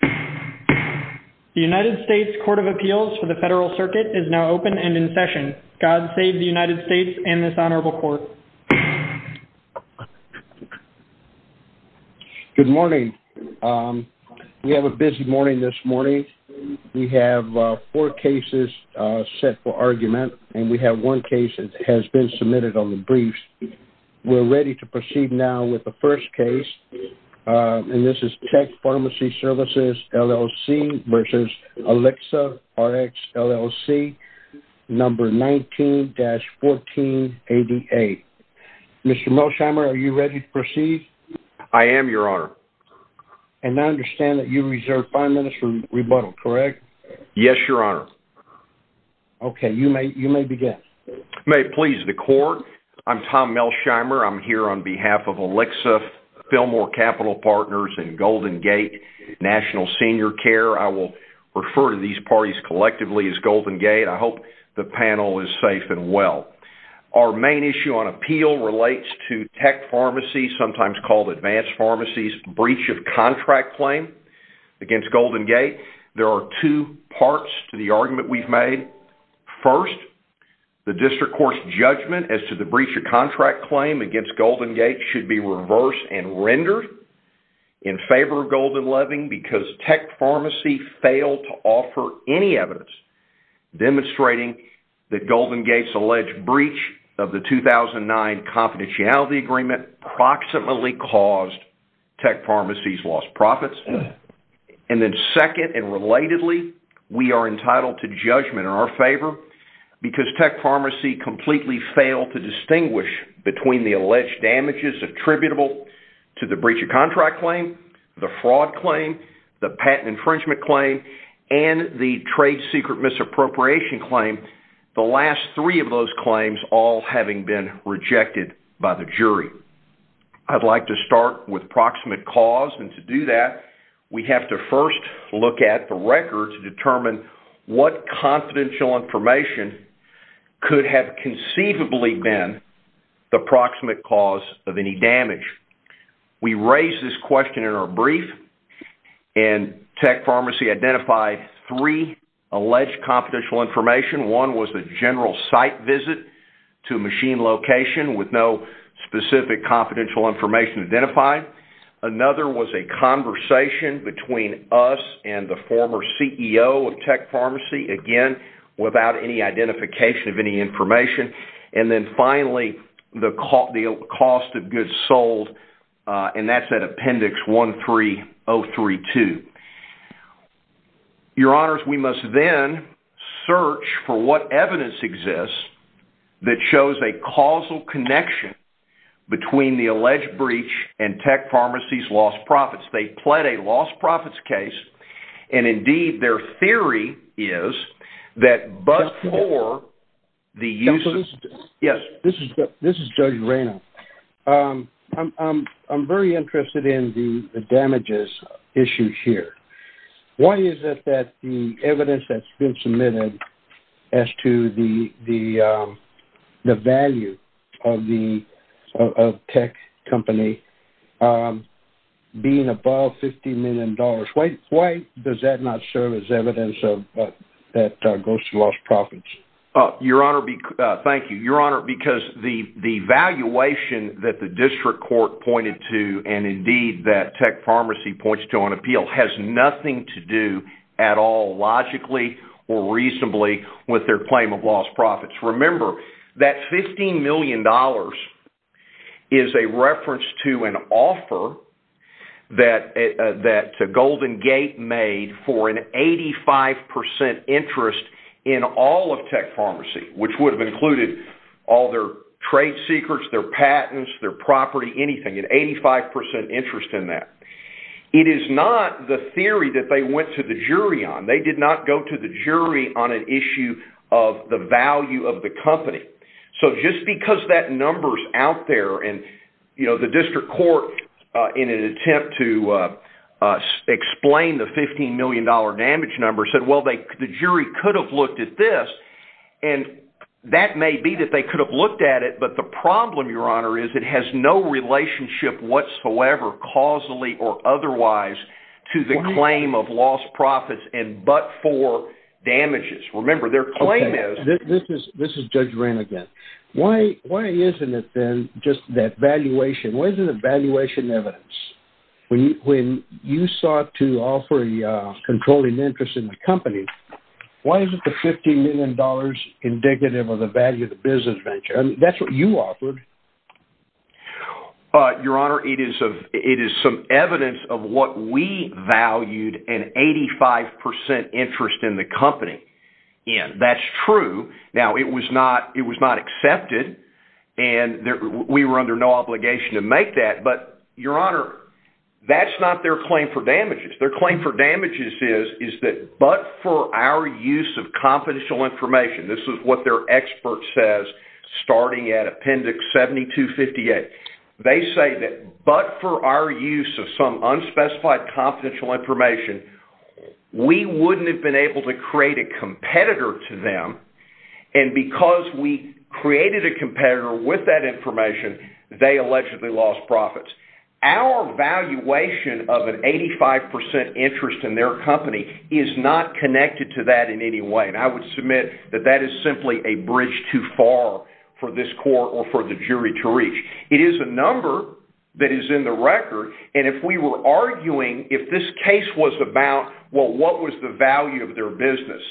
The United States Court of Appeals for the Federal Circuit is now open and in session. God save the United States and this honorable court. Good morning. We have a busy morning this morning. We have four cases set for argument and we have one case that has been submitted on the briefs. We're ready to proceed now with the first case and this is Tech Pharmacy Services, LLC v. Alixa Rx, LLC, number 19-1488. Mr. Melsheimer, are you ready to proceed? I am, Your Honor. And I understand that you reserve five minutes for rebuttal, correct? Yes, Your Honor. Okay, you may begin. May it please the court. I'm Tom Melsheimer. I'm here on behalf of Philmore Capital Partners and GoldenGate National Senior Care. I will refer to these parties collectively as GoldenGate. I hope the panel is safe and well. Our main issue on appeal relates to Tech Pharmacy, sometimes called Advanced Pharmacy's breach of contract claim against GoldenGate. There are two parts to the argument we've made. First, the district court's judgment as to the adverse and rendered in favor of Golden Loving because Tech Pharmacy failed to offer any evidence demonstrating that GoldenGate's alleged breach of the 2009 confidentiality agreement proximately caused Tech Pharmacy's lost profits. And then second and relatedly, we are entitled to judgment in our favor because Tech Pharmacy completely failed to distinguish between the alleged damages attributable to the breach of contract claim, the fraud claim, the patent infringement claim, and the trade secret misappropriation claim, the last three of those claims all having been rejected by the jury. I'd like to start with proximate cause and to do that we have to first look at the record to determine what confidential information could have conceivably been the proximate cause of any damage. We raised this question in our brief and Tech Pharmacy identified three alleged confidential information. One was the general site visit to machine location with no specific confidential information identified. Another was a conversation between us and the former CEO of Tech Pharmacy, again without any cost of goods sold, and that's at appendix 13032. Your Honors, we must then search for what evidence exists that shows a causal connection between the alleged breach and Tech Pharmacy's lost profits. They pled a lost profits case and indeed their theory is that but for the use of... Yes, this is Judge Reyna. I'm very interested in the damages issues here. Why is it that the evidence that's been submitted as to the value of the tech company being above $50 million? Why does that not serve as evidence? That goes to lost profits. Your Honor, thank you. Your Honor, because the valuation that the district court pointed to and indeed that Tech Pharmacy points to on appeal has nothing to do at all logically or reasonably with their claim of lost profits. Remember that $15 million is a reference to an 85% interest in all of Tech Pharmacy, which would have included all their trade secrets, their patents, their property, anything, an 85% interest in that. It is not the theory that they went to the jury on. They did not go to the jury on an issue of the value of the company. So just because that number's out there and you know the district court in an attempt to explain the $15 million damage number said, well, the jury could have looked at this and that may be that they could have looked at it, but the problem, Your Honor, is it has no relationship whatsoever causally or otherwise to the claim of lost profits and but for damages. Remember their claim is... This is Judge Reyna again. Why isn't it then just that valuation, where's the valuation evidence? When you sought to offer a controlling interest in the company, why is it the $15 million dollars indicative of the value of the business venture? That's what you offered. Your Honor, it is some evidence of what we valued an 85% interest in the company in. That's true. Now it was not it was not accepted and we were under no obligation to make that, but Your Honor, that's not their claim for damages. Their claim for damages is that but for our use of confidential information, this is what their expert says starting at Appendix 7258, they say that but for our use of some unspecified confidential information, we wouldn't have been able to create a competitor to them and because we created a competitor with that information, they allegedly lost profits. Our valuation of an 85% interest in their company is not connected to that in any way and I would submit that that is simply a bridge too far for this court or for the jury to reach. It is a number that is in the record and if we were arguing, if this case was about, well, what was the value of their business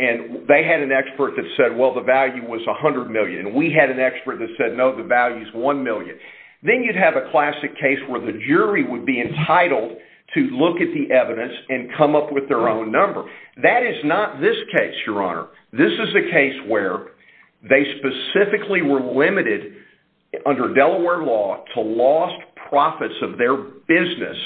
and they had an expert that said, well, the value was $100 million and we had an expert that said, no, the value is $1 million, then you'd have a classic case where the jury would be entitled to look at the evidence and come up with their own number. That is not this case, Your Honor. This is a case where they specifically were limited under Delaware law to lost profits of their business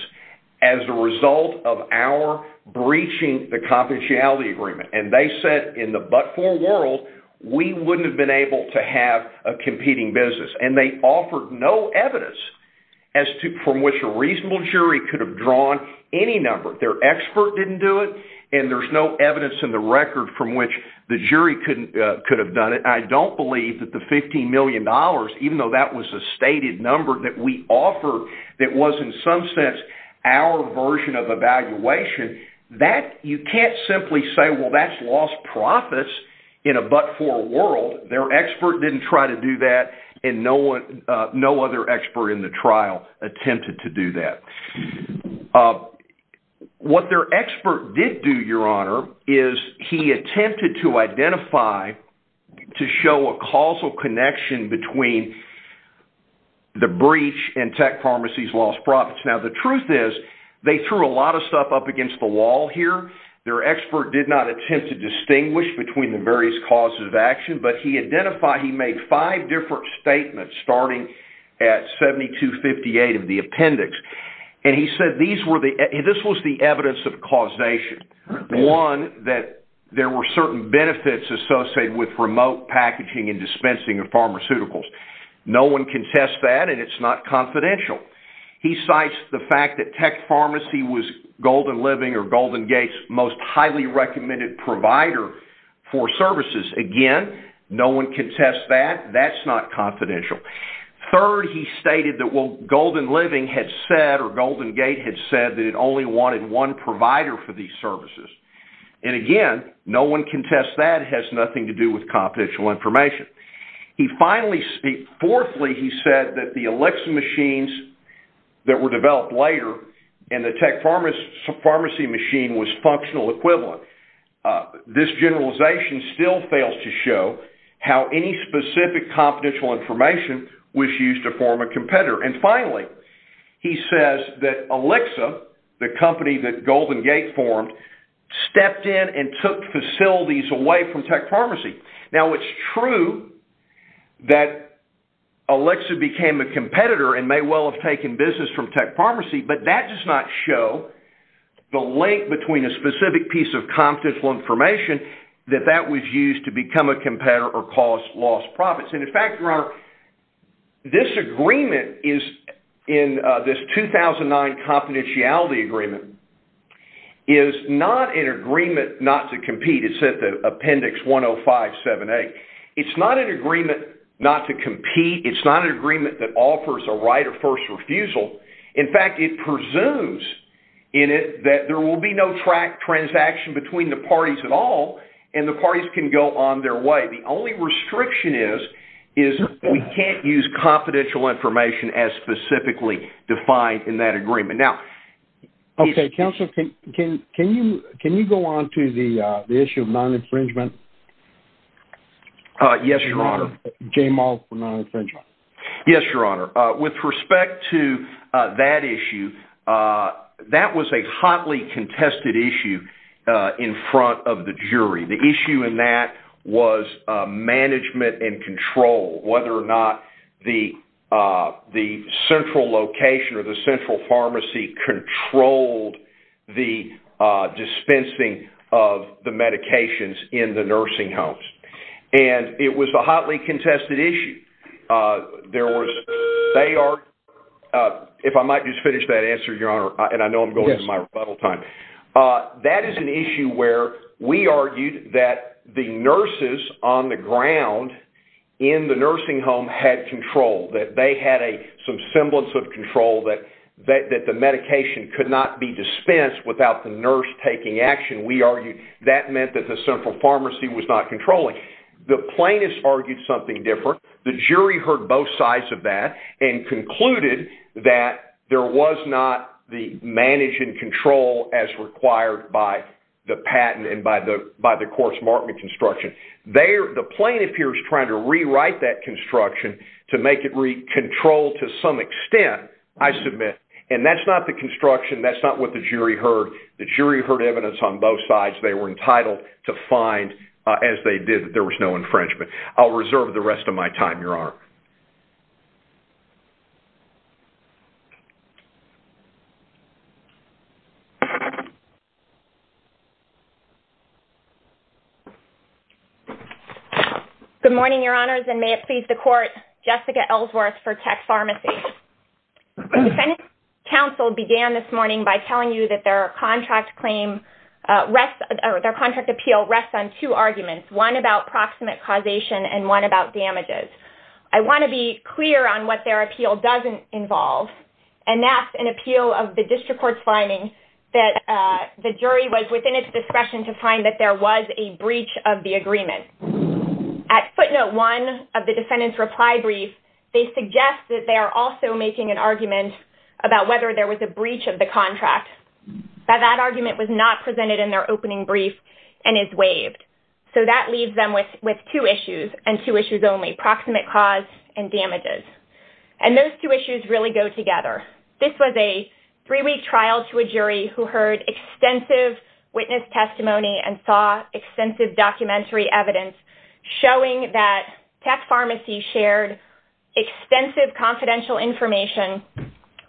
as a result of our breaching the confidentiality agreement and they said in the but-for world, we wouldn't have been able to have a competing business and they offered no evidence from which a reasonable jury could have drawn any number. Their expert didn't do it and there's no evidence in the record from which the jury could have done it. I don't believe that the $15 million, even though that was a stated number that we offered that was in some sense our version of evaluation, you can't simply say, well, that's lost profits in a but-for world. Their expert didn't try to do that and no other expert in the trial attempted to do that. What their expert did do, Your Honor, is he attempted to identify, to show a causal connection between the breach and Tech Pharmacy's lost profits. Now, the truth is, they threw a lot of stuff up to distinguish between the various causes of action, but he identified, he made five different statements starting at 7258 of the appendix and he said these were the, this was the evidence of causation. One, that there were certain benefits associated with remote packaging and dispensing of pharmaceuticals. No one can test that and it's not confidential. He cites the fact that Tech Pharmacy was Golden Living or Golden Gate's most highly recommended provider for services. Again, no one can test that, that's not confidential. Third, he stated that what Golden Living had said or Golden Gate had said that it only wanted one provider for these services. And again, no one can test that, has nothing to do with confidential information. He finally, fourthly, he said that the Alexa machines that were developed later and the Tech Pharmacy machine was functional equivalent. This generalization still fails to show how any specific confidential information was used to form a competitor. And finally, he says that Alexa, the company that Golden Gate formed, stepped in and took facilities away from Tech Pharmacy. Now, it's true that Alexa became a competitor and may well have taken business from Tech Pharmacy. However, the link between a specific piece of confidential information that that was used to become a competitor or cause lost profits. And in fact, your honor, this agreement is in this 2009 confidentiality agreement, is not an agreement not to compete. It's at the appendix 105.7.8. It's not an agreement not to compete. It's not an agreement that offers a right of first refusal. In fact, it presumes in it that there will be no transaction between the parties at all, and the parties can go on their way. The only restriction is, is we can't use confidential information as specifically defined in that agreement. Now... Okay, counsel, can you go on to the issue of non-infringement? Yes, your honor. Yes, your honor. With respect to that issue, that was a hotly contested issue in front of the jury. The issue in that was management and control, whether or not the central location or the central pharmacy controlled the dispensing of the medications in the nursing homes. And it was a hotly contested issue. There was... They are... If I might just finish that answer, your honor, and I know I'm going to my rebuttal time. That is an issue where we argued that the nurses on the ground in the nursing home had control, that they had some semblance of control, that the medication could not be dispensed without the nurse taking action. We argued that meant that the central pharmacy was not controlling. The plaintiffs argued something different. The jury heard both sides of that and concluded that there was not the managing control as required by the patent and by the course markment construction. The plaintiff here is trying to rewrite that construction to make it control to some extent, I submit. And that's not the construction, that's not what the jury heard. The jury heard evidence on both sides, and they did find, as they did, that there was no infringement. I'll reserve the rest of my time, your honor. Good morning, your honors, and may it please the court, Jessica Ellsworth for Tech Pharmacy. The defendant's counsel began this morning by telling you that their contract appeal rests on two arguments, one about proximate causation and one about damages. I want to be clear on what their appeal doesn't involve, and that's an appeal of the district court's finding that the jury was within its discretion to find that there was a breach of the agreement. At footnote one of the defendant's reply brief, they suggest that they are also making an argument about whether there was a breach of the contract. That that argument was not and is waived. So that leaves them with with two issues, and two issues only, proximate cause and damages. And those two issues really go together. This was a three-week trial to a jury who heard extensive witness testimony and saw extensive documentary evidence showing that Tech Pharmacy shared extensive confidential information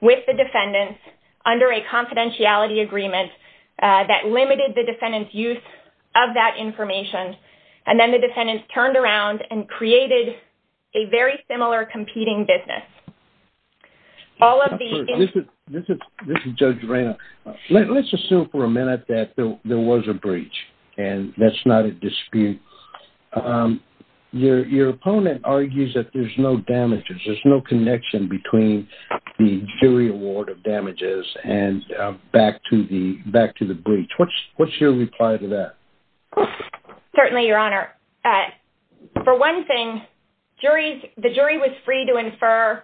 with the defendants under a confidentiality agreement that limited the defendant's use of that information. And then the defendant turned around and created a very similar competing business. This is Judge Reyna. Let's assume for a minute that there was a breach, and that's not a dispute. Your opponent argues that there's no damages, there's no connection between the jury award of damages and back to the breach. What's your reply to that? Certainly, Your Honor. For one thing, the jury was free to infer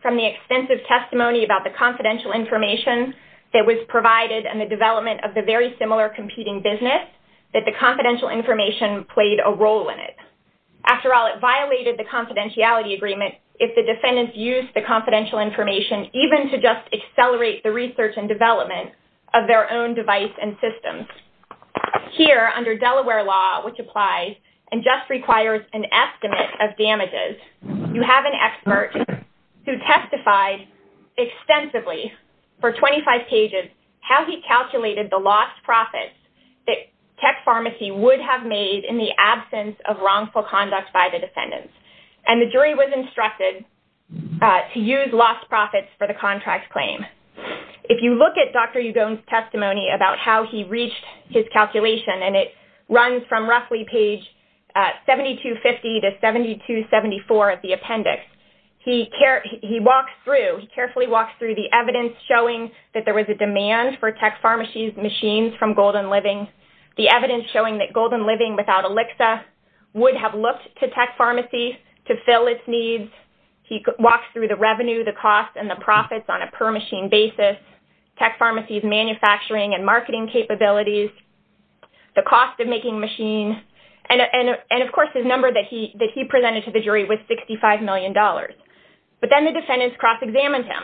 from the extensive testimony about the confidential information that was provided and the development of the very similar competing business that the confidential information played a role in it. After all, it violated the confidentiality agreement if the defendants used the confidential information even to just accelerate the research and development of their own device and systems. Here, under Delaware law, which applies and just requires an estimate of damages, you have an expert who testified extensively for 25 pages how he calculated the lost profits that Tech Pharmacy would have made in the absence of wrongful conduct by the defendants. And the jury was instructed to use lost profits for the contract claim. If you look at Dr. Ugon's testimony about how he reached his calculation, and it runs from roughly page 7250 to 7274 of the appendix, he carefully walks through the evidence showing that there was a demand for Tech Pharmacy's machines from Golden Living without ELIXIR, would have looked to Tech Pharmacy to fill its needs. He walks through the revenue, the cost, and the profits on a per machine basis, Tech Pharmacy's manufacturing and marketing capabilities, the cost of making machines, and of course his number that he presented to the jury was $65 million. But then the defendants cross-examined him,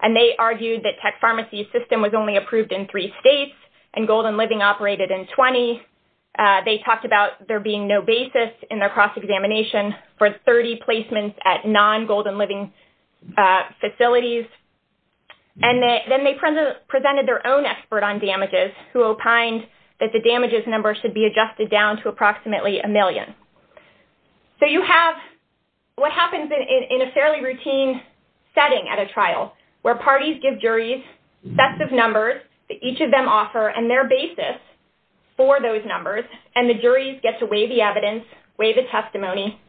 and they argued that Tech Pharmacy's system was only approved in three states, and Golden Living operated in 20. They talked about there being no basis in their cross-examination for 30 placements at non-Golden Living facilities, and then they presented their own expert on damages who opined that the damages number should be adjusted down to approximately a million. So you have what happens in a fairly routine setting at a trial, where parties give juries sets of offer and their basis for those numbers, and the juries get to weigh the evidence, weigh the testimony,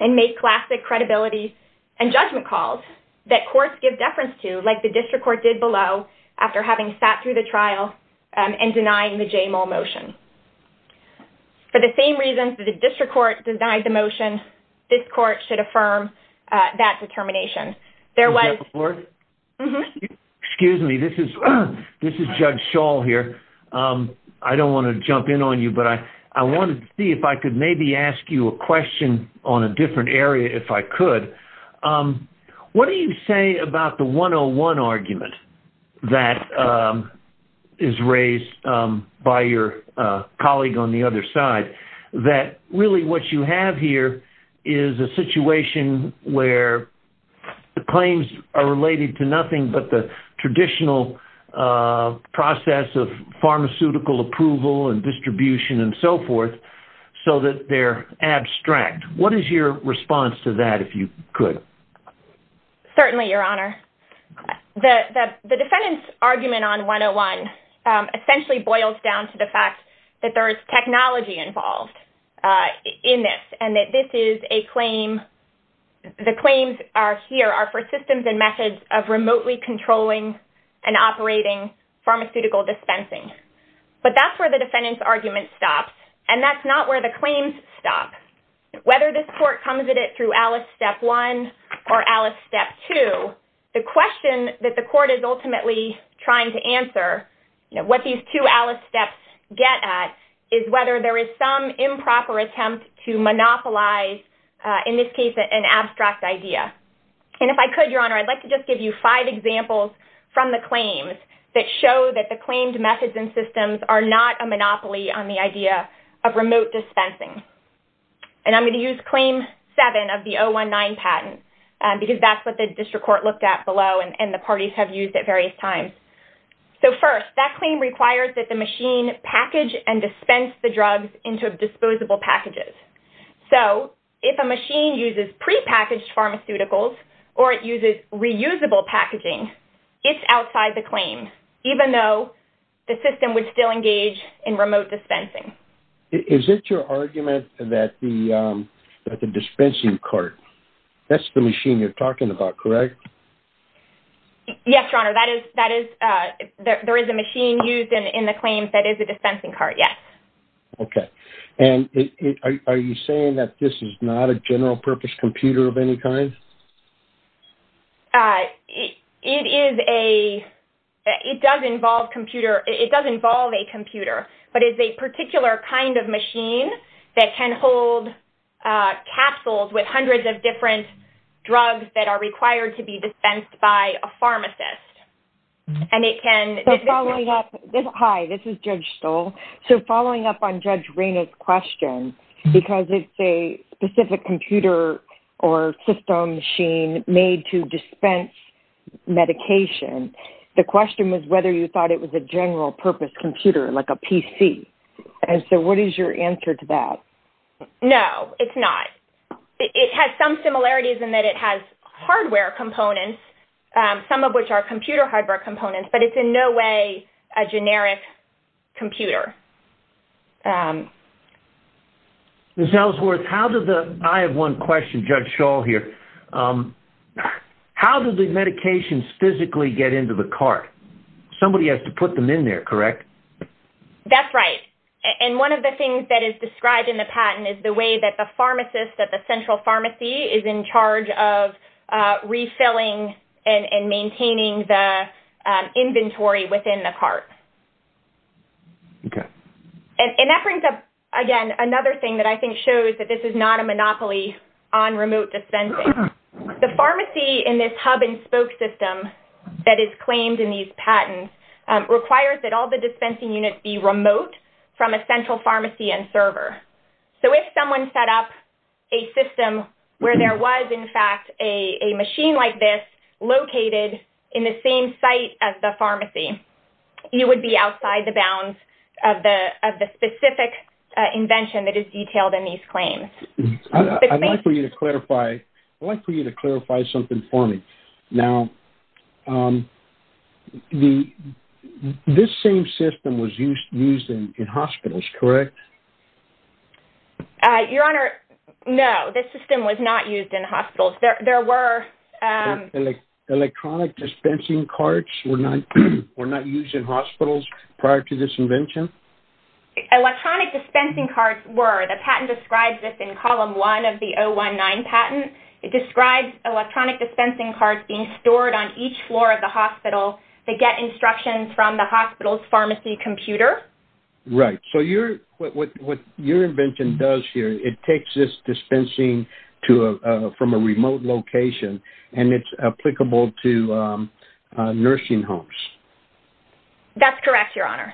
and make classic credibility and judgment calls that courts give deference to, like the district court did below, after having sat through the trial and denying the J. Moll motion. For the same reasons that the district court denied the motion, this court should affirm that I don't want to jump in on you, but I wanted to see if I could maybe ask you a question on a different area, if I could. What do you say about the 101 argument that is raised by your colleague on the other side, that really what you have here is a situation where the claims are related to nothing but the traditional process of pharmaceutical approval and distribution and so forth, so that they're abstract. What is your response to that, if you could? Certainly, Your Honor. The defendant's argument on 101 essentially boils down to the fact that there is technology involved in this, and that this is a claim, the claims are here, are for systems and methods of remotely controlling and operating pharmaceutical dispensing. But that's where the defendant's argument stops, and that's not where the claims stop. Whether this court comes at it through Alice Step 1 or Alice Step 2, the question that the court is ultimately trying to answer, what these two Alice Steps get at, is whether there is some improper attempt to monopolize, in this case, an abstract idea. And if I could, Your Honor, I'd like to just give you five examples from the claims that show that the claimed methods and systems are not a monopoly on the idea of remote dispensing. And I'm going to use claim 7 of the 019 patent, because that's what the district court looked at below, and the parties have used at various times. So first, that claim requires that the machine package and dispense the drugs into disposable packages. So if a machine uses pre-packaged pharmaceuticals, or it uses reusable packaging, it's outside the claim, even though the system would still engage in remote dispensing. Is it your argument that the dispensing cart, that's the machine you're talking about, correct? Yes, Your Honor, that is, that is, there is a machine used in the claims that is a dispensing cart, yes. Okay, and are you saying that this is not a general-purpose computer of any kind? It is a, it does involve computer, it does involve a computer, but it's a particular kind of machine that can hold capsules with hundreds of different drugs that are required to be dispensed by a pharmacist. And it can... Hi, this is Judge Stoll. So following up on Judge Stoll, when you said that this is not a computer or system machine made to dispense medication, the question was whether you thought it was a general-purpose computer, like a PC. And so what is your answer to that? No, it's not. It has some similarities in that it has hardware components, some of which are computer hardware components, but it's in no way a generic computer. Ms. Ellsworth, how did the... I have one question, Judge Stoll here. How do the medications physically get into the cart? Somebody has to put them in there, correct? That's right, and one of the things that is described in the patent is the way that the pharmacist at the central pharmacy is in charge of refilling and maintaining the inventory within the cart. Okay. And that brings up, again, another thing that I think shows that this is not a monopoly on remote dispensing. The pharmacy in this hub-and- spoke system that is claimed in these patents requires that all the dispensing units be remote from a central pharmacy and server. So if someone set up a system where there was, in fact, a machine like this located in the same site as the pharmacy, you would be outside the bounds of the specific invention that is detailed in these claims. I'd like for you to clarify... I'd like for you to clarify something for me. Now, this same system was used in hospitals, correct? Your Honor, no. This system was not used in hospitals. There were... Electronic dispensing carts were not used in hospitals prior to this invention? Electronic dispensing carts were. The patent describes this in column electronic dispensing carts being stored on each floor of the hospital to get instructions from the hospital's pharmacy computer. Right. So what your invention does here, it takes this dispensing from a remote location and it's applicable to nursing homes. That's correct, Your Honor.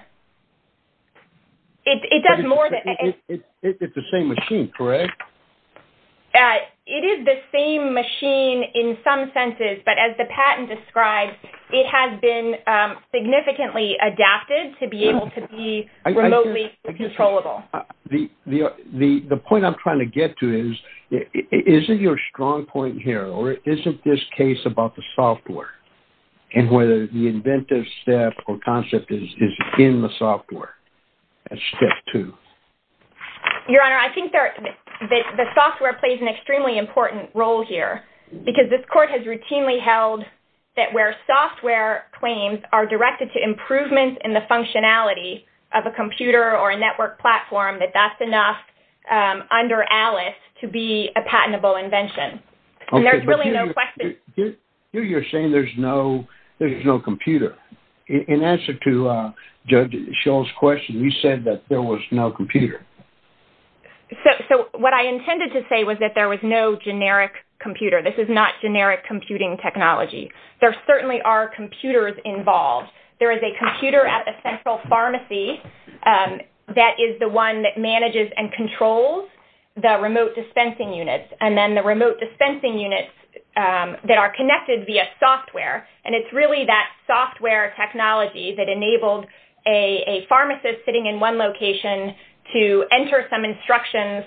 It's the same machine in some senses, but as the patent describes, it has been significantly adapted to be able to be remotely controllable. The point I'm trying to get to is, isn't your strong point here, or isn't this case about the software and whether the inventive step or concept is in the software? That's step two. Your Honor, I think that the software plays an extremely important role here because this court has routinely held that where software claims are directed to improvements in the functionality of a computer or a network platform, that that's enough under Alice to be a patentable invention. And there's really no question... Here you're saying there's no computer. In answer to Judge Scholl's question, you said that there was no computer. So what I intended to say was that there was no generic computer. This is not generic computing technology. There certainly are computers involved. There is a computer at a central pharmacy that is the one that manages and controls the remote dispensing units, and then the remote dispensing units that are connected via software. And it's really that software technology that enabled a pharmacist sitting in one location to enter some instructions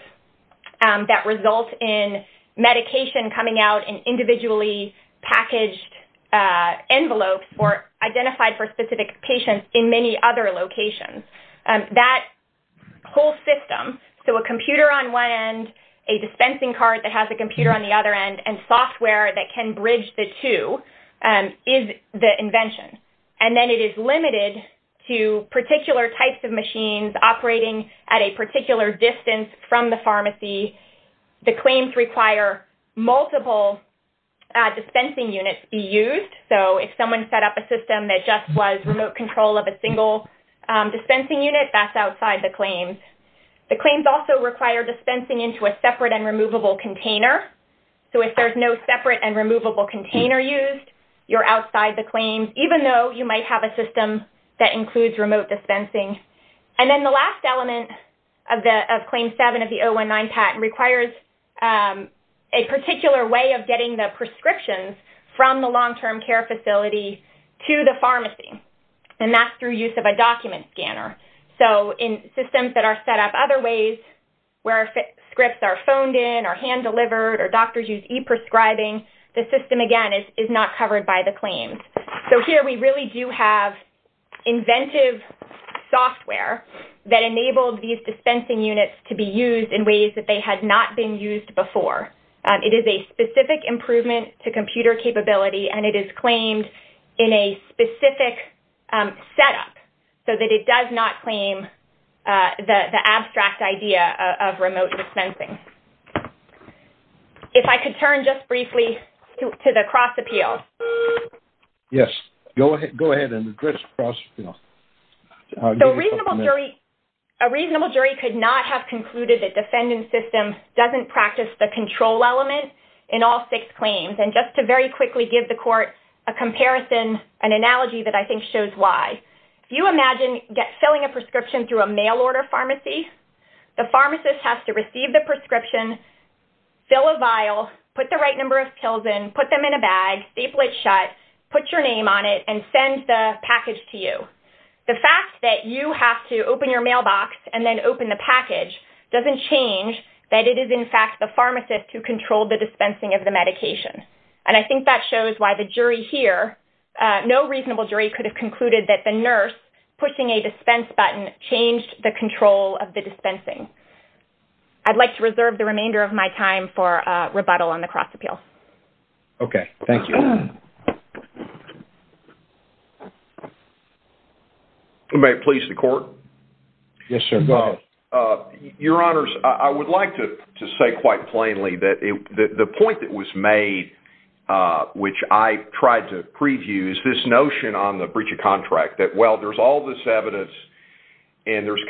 that result in medication coming out in individually packaged envelopes or identified for specific patients in many other locations. That whole system, so a computer on one end, a dispensing cart that has a computer on the other end, and software that can bridge the two, is the invention. And then it is limited to particular types of machines operating at a particular distance from the pharmacy. The claims require multiple dispensing units be used. So if someone set up a system that just was remote control of a single dispensing unit, that's outside the claims. The claims also require dispensing into a separate and removable container. So if there's no separate and removable container used, you're outside the claims, even though you might have a system that includes remote dispensing. And then the last element of Claim 7 of the 019 patent requires a particular way of getting the prescriptions from the long-term care facility to the pharmacy, and that's through use of a document scanner. So in systems that are set up other ways, where scripts are phoned in or hand-delivered or doctors use e-prescribing, the system again is not covered by the claims. So here we really do have inventive software that enabled these dispensing units to be used in ways that they had not been used before. It is a specific improvement to computer capability, and it is claimed in a specific setup, so that it does not claim the abstract idea of remote dispensing. If I could turn just briefly to the cross-appeal. Yes, go ahead and address the cross-appeal. A reasonable jury could not have concluded that defendant system doesn't practice the control element in all six claims. And just to very quickly give the court a comparison, an analogy that I think shows why. If you imagine filling a prescription through a mail-order pharmacy, the pharmacist has to receive the prescription, fill a vial, put the right number of pills in, put them in a bag, staple it shut, put your name on it, and send the package to you. The fact that you have to open your mailbox and then open the package doesn't change that it is in fact the pharmacist who controlled the dispensing of the medication. And I think that shows why the jury here, no reasonable jury could have concluded that the nurse pushing a dispense button changed the I'd like to reserve the remainder of my time for rebuttal on the cross-appeal. Okay, thank you. May it please the court? Yes, sir. Go ahead. Your Honors, I would like to say quite plainly that the point that was made, which I tried to preview, is this notion on the breach of contract. That, well, there's all this evidence and there's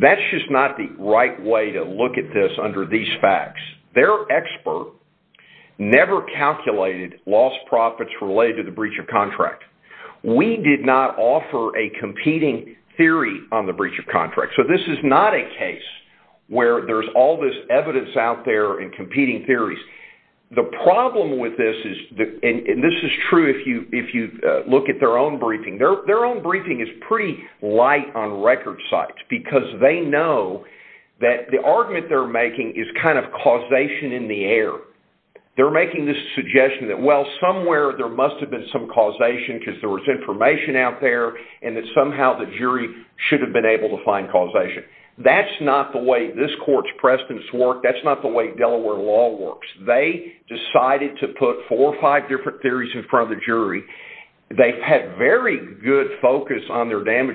that's just not the right way to look at this under these facts. Their expert never calculated lost profits related to the breach of contract. We did not offer a competing theory on the breach of contract. So this is not a case where there's all this evidence out there and competing theories. The problem with this is that, and this is true if you if you look at their own briefing, their know that the argument they're making is kind of causation in the air. They're making this suggestion that, well, somewhere there must have been some causation because there was information out there and that somehow the jury should have been able to find causation. That's not the way this court's precedence worked. That's not the way Delaware law works. They decided to put four or five different theories in front of the jury. They've had very good focus on their secret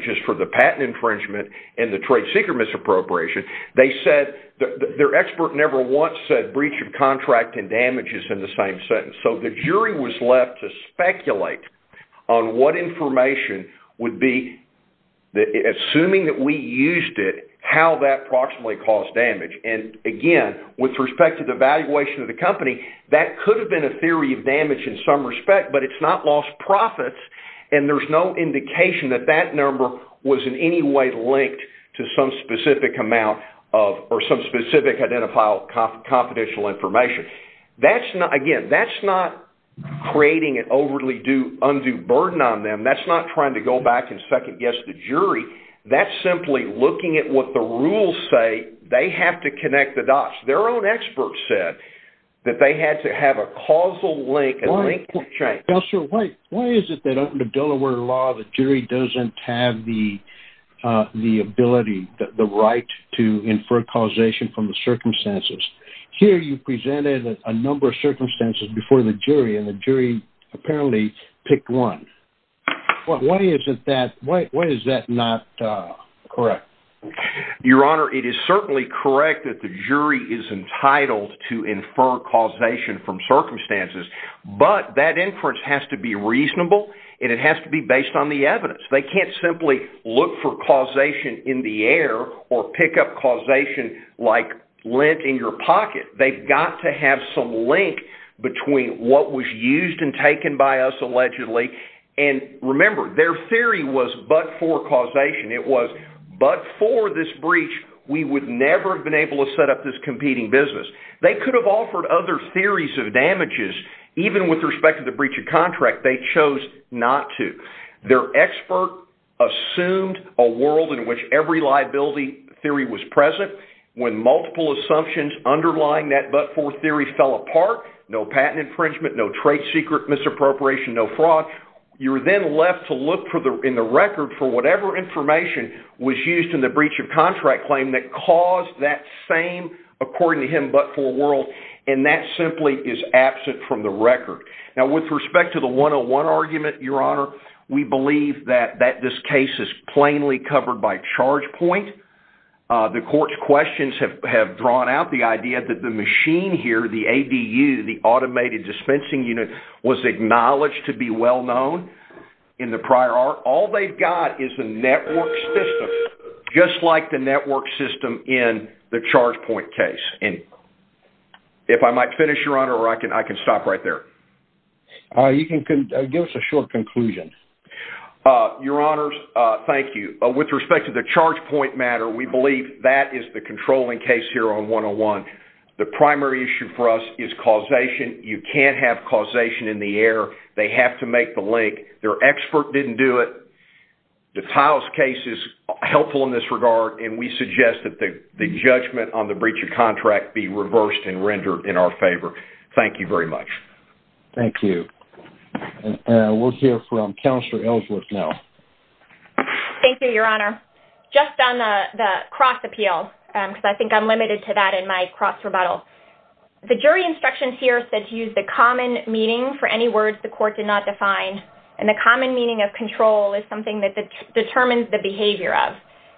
misappropriation. They said their expert never once said breach of contract and damages in the same sentence. So the jury was left to speculate on what information would be, assuming that we used it, how that approximately caused damage. And again, with respect to the valuation of the company, that could have been a theory of damage in some respect, but it's not lost profits and there's no indication that that number was in any way linked to some specific amount of or some specific identifiable confidential information. Again, that's not creating an overly undue burden on them. That's not trying to go back and second guess the jury. That's simply looking at what the rules say. They have to connect the dots. Their own experts said that they had to link a link. Why is it that under Delaware law, the jury doesn't have the ability, the right to infer causation from the circumstances? Here you presented a number of circumstances before the jury and the jury apparently picked one. Why is that not correct? Your Honor, it is certainly correct that the jury is entitled to infer causation from circumstances, but that inference has to be reasonable and it has to be based on the evidence. They can't simply look for causation in the air or pick up causation like lint in your pocket. They've got to have some link between what was used and taken by us allegedly. And remember, their theory was but for causation. It was but for this breach, we would never have set up this competing business. They could have offered other theories of damages even with respect to the breach of contract. They chose not to. Their expert assumed a world in which every liability theory was present. When multiple assumptions underlying that but for theory fell apart, no patent infringement, no trade secret misappropriation, no fraud, you were then left to look in the record for whatever information was used in the breach of same according to him but for world. And that simply is absent from the record. Now with respect to the 101 argument, Your Honor, we believe that this case is plainly covered by charge point. The court's questions have drawn out the idea that the machine here, the ADU, the automated dispensing unit, was acknowledged to be well known in the prior art. All they've got is a network system. Just like the network system in the charge point case. And if I might finish, Your Honor, or I can stop right there. You can give us a short conclusion. Your Honors, thank you. With respect to the charge point matter, we believe that is the controlling case here on 101. The primary issue for us is causation. You can't have causation in the air. They have to make the link. Their expert didn't do it. The tiles case is helpful in this regard and we suggest that the judgment on the breach of contract be reversed and rendered in our favor. Thank you very much. Thank you. And we'll hear from Counselor Ellsworth now. Thank you, Your Honor. Just on the cross appeal, because I think I'm limited to that in my cross rebuttal. The jury instructions said to use the common meaning for any words the court did not define. And the common meaning of control is something that determines the behavior of.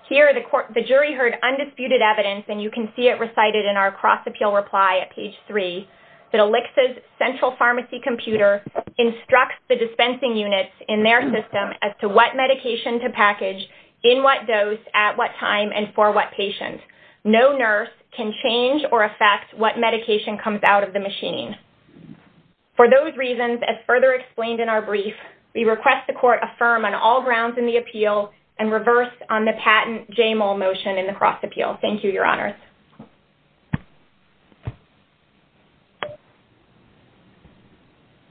Here, the jury heard undisputed evidence, and you can see it recited in our cross appeal reply at page 3, that ELLICS' central pharmacy computer instructs the dispensing units in their system as to what medication to package, in what dose, at what time, and for what patient. No nurse can change or affect what they're dispensing. For those reasons, as further explained in our brief, we request the court affirm on all grounds in the appeal and reverse on the patent JMOL motion in the cross appeal. Thank you, Your Honors.